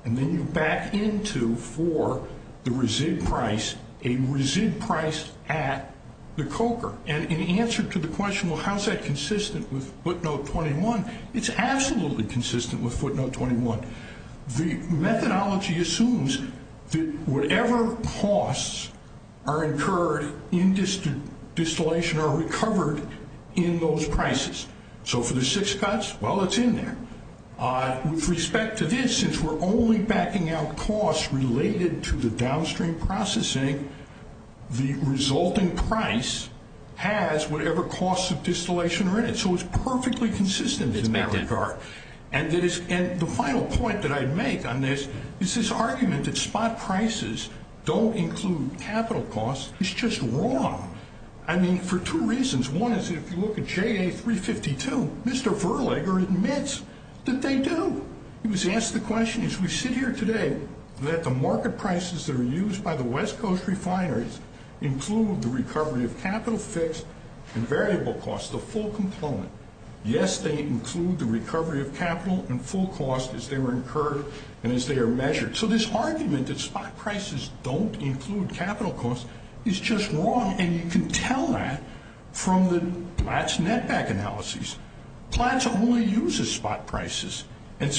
And then you back into for the resid price, a resid price at the coker. And in answer to the question, well, how's that consistent with footnote 21? It's absolutely consistent with footnote 21. The methodology assumes that whatever costs are incurred in distillation are recovered in those prices. So for the six cuts, well, it's in there. With respect to this, since we're only backing out costs related to the downstream processing, the resulting price has whatever costs of distillation are in it. So it's perfectly consistent in that regard. And the final point that I'd make on this is this argument that spot prices don't include capital costs is just wrong. I mean, for two reasons. One is if you look at JA352, Mr. Verlager admits that they do. He was asked the question, as we sit here today, that the market prices that are used by the West Coast refineries include the recovery of capital fixed and variable costs, the full component. Yes, they include the recovery of capital and full costs as they were incurred and as they are measured. So this argument that spot prices don't include capital costs is just wrong. And you can tell that from the Platts netback analysis. Platts only uses spot prices. And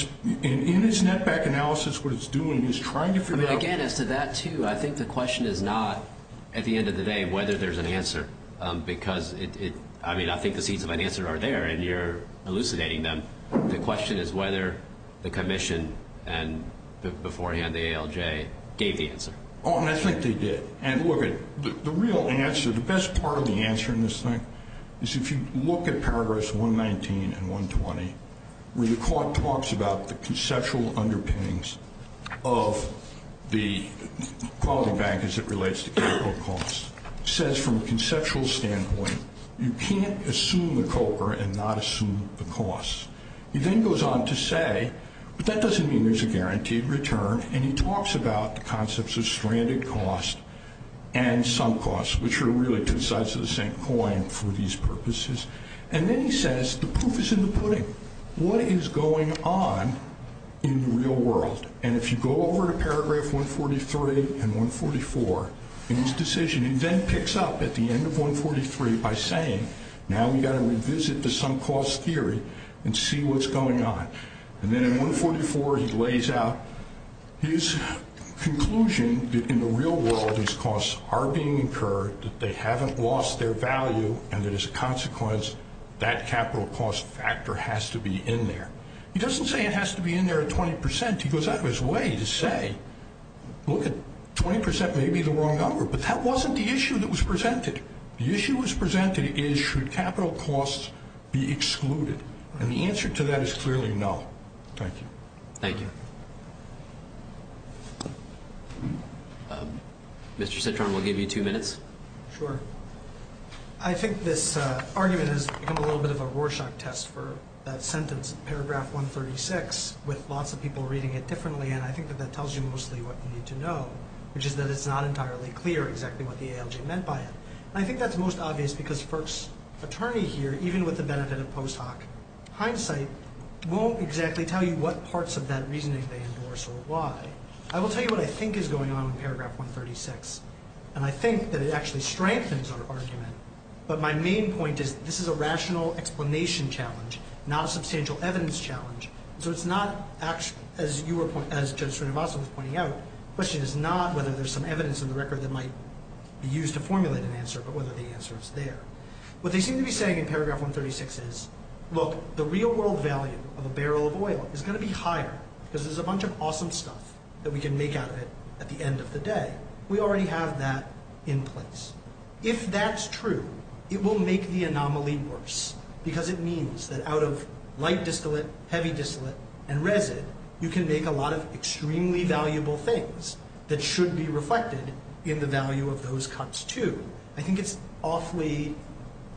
in its netback analysis, what it's doing is trying to figure out. Again, as to that, too, I think the question is not, at the end of the day, whether there's an answer. Because, I mean, I think the seeds of an answer are there, and you're elucidating them. The question is whether the commission and beforehand the ALJ gave the answer. Oh, and I think they did. And look, the real answer, the best part of the answer in this thing is if you look at paragraphs 119 and 120, where the court talks about the conceptual underpinnings of the quality bank as it relates to capital costs. He says, from a conceptual standpoint, you can't assume the COCR and not assume the costs. He then goes on to say, but that doesn't mean there's a guaranteed return. And he talks about the concepts of stranded costs and sunk costs, which are really two sides of the same coin for these purposes. And then he says the proof is in the pudding. What is going on in the real world? And if you go over to paragraph 143 and 144 in his decision, he then picks up at the end of 143 by saying, now we've got to revisit the sunk cost theory and see what's going on. And then in 144, he lays out his conclusion that in the real world, these costs are being incurred, that they haven't lost their value, and that as a consequence, that capital cost factor has to be in there. He doesn't say it has to be in there at 20%. He goes out of his way to say, look, 20% may be the wrong number, but that wasn't the issue that was presented. The issue that was presented is, should capital costs be excluded? And the answer to that is clearly no. Thank you. Thank you. Mr. Citron, we'll give you two minutes. Sure. I think this argument has become a little bit of a Rorschach test for that sentence, paragraph 136, with lots of people reading it differently, and I think that that tells you mostly what you need to know, which is that it's not entirely clear exactly what the ALJ meant by it. And I think that's most obvious because Firk's attorney here, even with the benefit of post hoc hindsight, won't exactly tell you what parts of that reasoning they endorse or why. I will tell you what I think is going on in paragraph 136, and I think that it actually strengthens our argument, but my main point is this is a rational explanation challenge, not a substantial evidence challenge. So it's not actually, as Judge Srinivasan was pointing out, the question is not whether there's some evidence in the record that might be used to formulate an answer, but whether the answer is there. What they seem to be saying in paragraph 136 is, look, the real world value of a barrel of oil is going to be higher because there's a bunch of awesome stuff that we can make out of it at the end of the day. We already have that in place. If that's true, it will make the anomaly worse, because it means that out of light distillate, heavy distillate, and resid, you can make a lot of extremely valuable things that should be reflected in the value of those cuts too. I think it's an awfully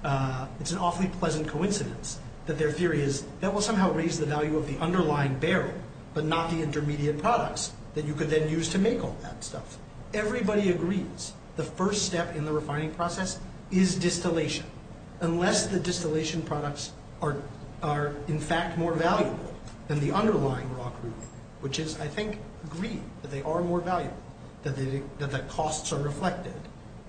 pleasant coincidence that their theory is that will somehow raise the value of the underlying barrel, but not the intermediate products that you could then use to make all that stuff. Everybody agrees the first step in the refining process is distillation, unless the distillation products are in fact more valuable than the underlying raw crude, which is, I think, agreed that they are more valuable, that the costs are reflected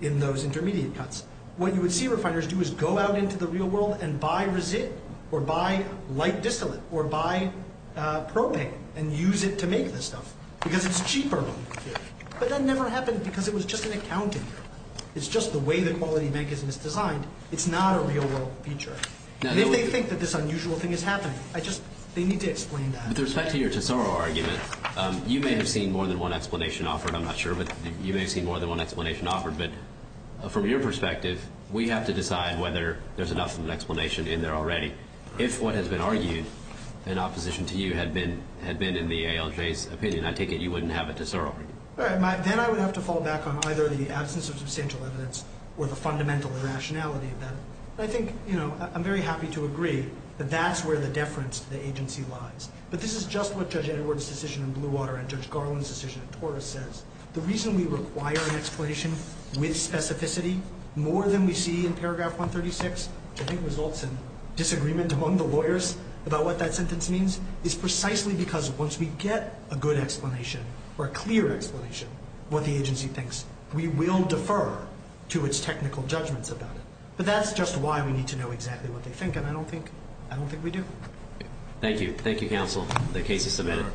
in those intermediate cuts. What you would see refiners do is go out into the real world and buy resid, or buy light distillate, or buy propane, and use it to make this stuff, because it's cheaper. But that never happened because it was just an accounting error. It's just the way the quality bank is misdesigned. It's not a real-world feature. If they think that this unusual thing is happening, they need to explain that. With respect to your Tesoro argument, you may have seen more than one explanation offered. I'm not sure, but you may have seen more than one explanation offered. But from your perspective, we have to decide whether there's enough of an explanation in there already. If what has been argued in opposition to you had been in the ALJ's opinion, I take it you wouldn't have a Tesoro argument. Then I would have to fall back on either the absence of substantial evidence or the fundamental irrationality of that. I think I'm very happy to agree that that's where the deference to the agency lies. But this is just what Judge Edward's decision in Bluewater and Judge Garland's decision in Torres says. The reason we require an explanation with specificity more than we see in paragraph 136, which I think results in disagreement among the lawyers about what that sentence means, is precisely because once we get a good explanation or a clear explanation of what the agency thinks, we will defer to its technical judgments about it. But that's just why we need to know exactly what they think, and I don't think we do. Thank you. Thank you, counsel. The case is submitted.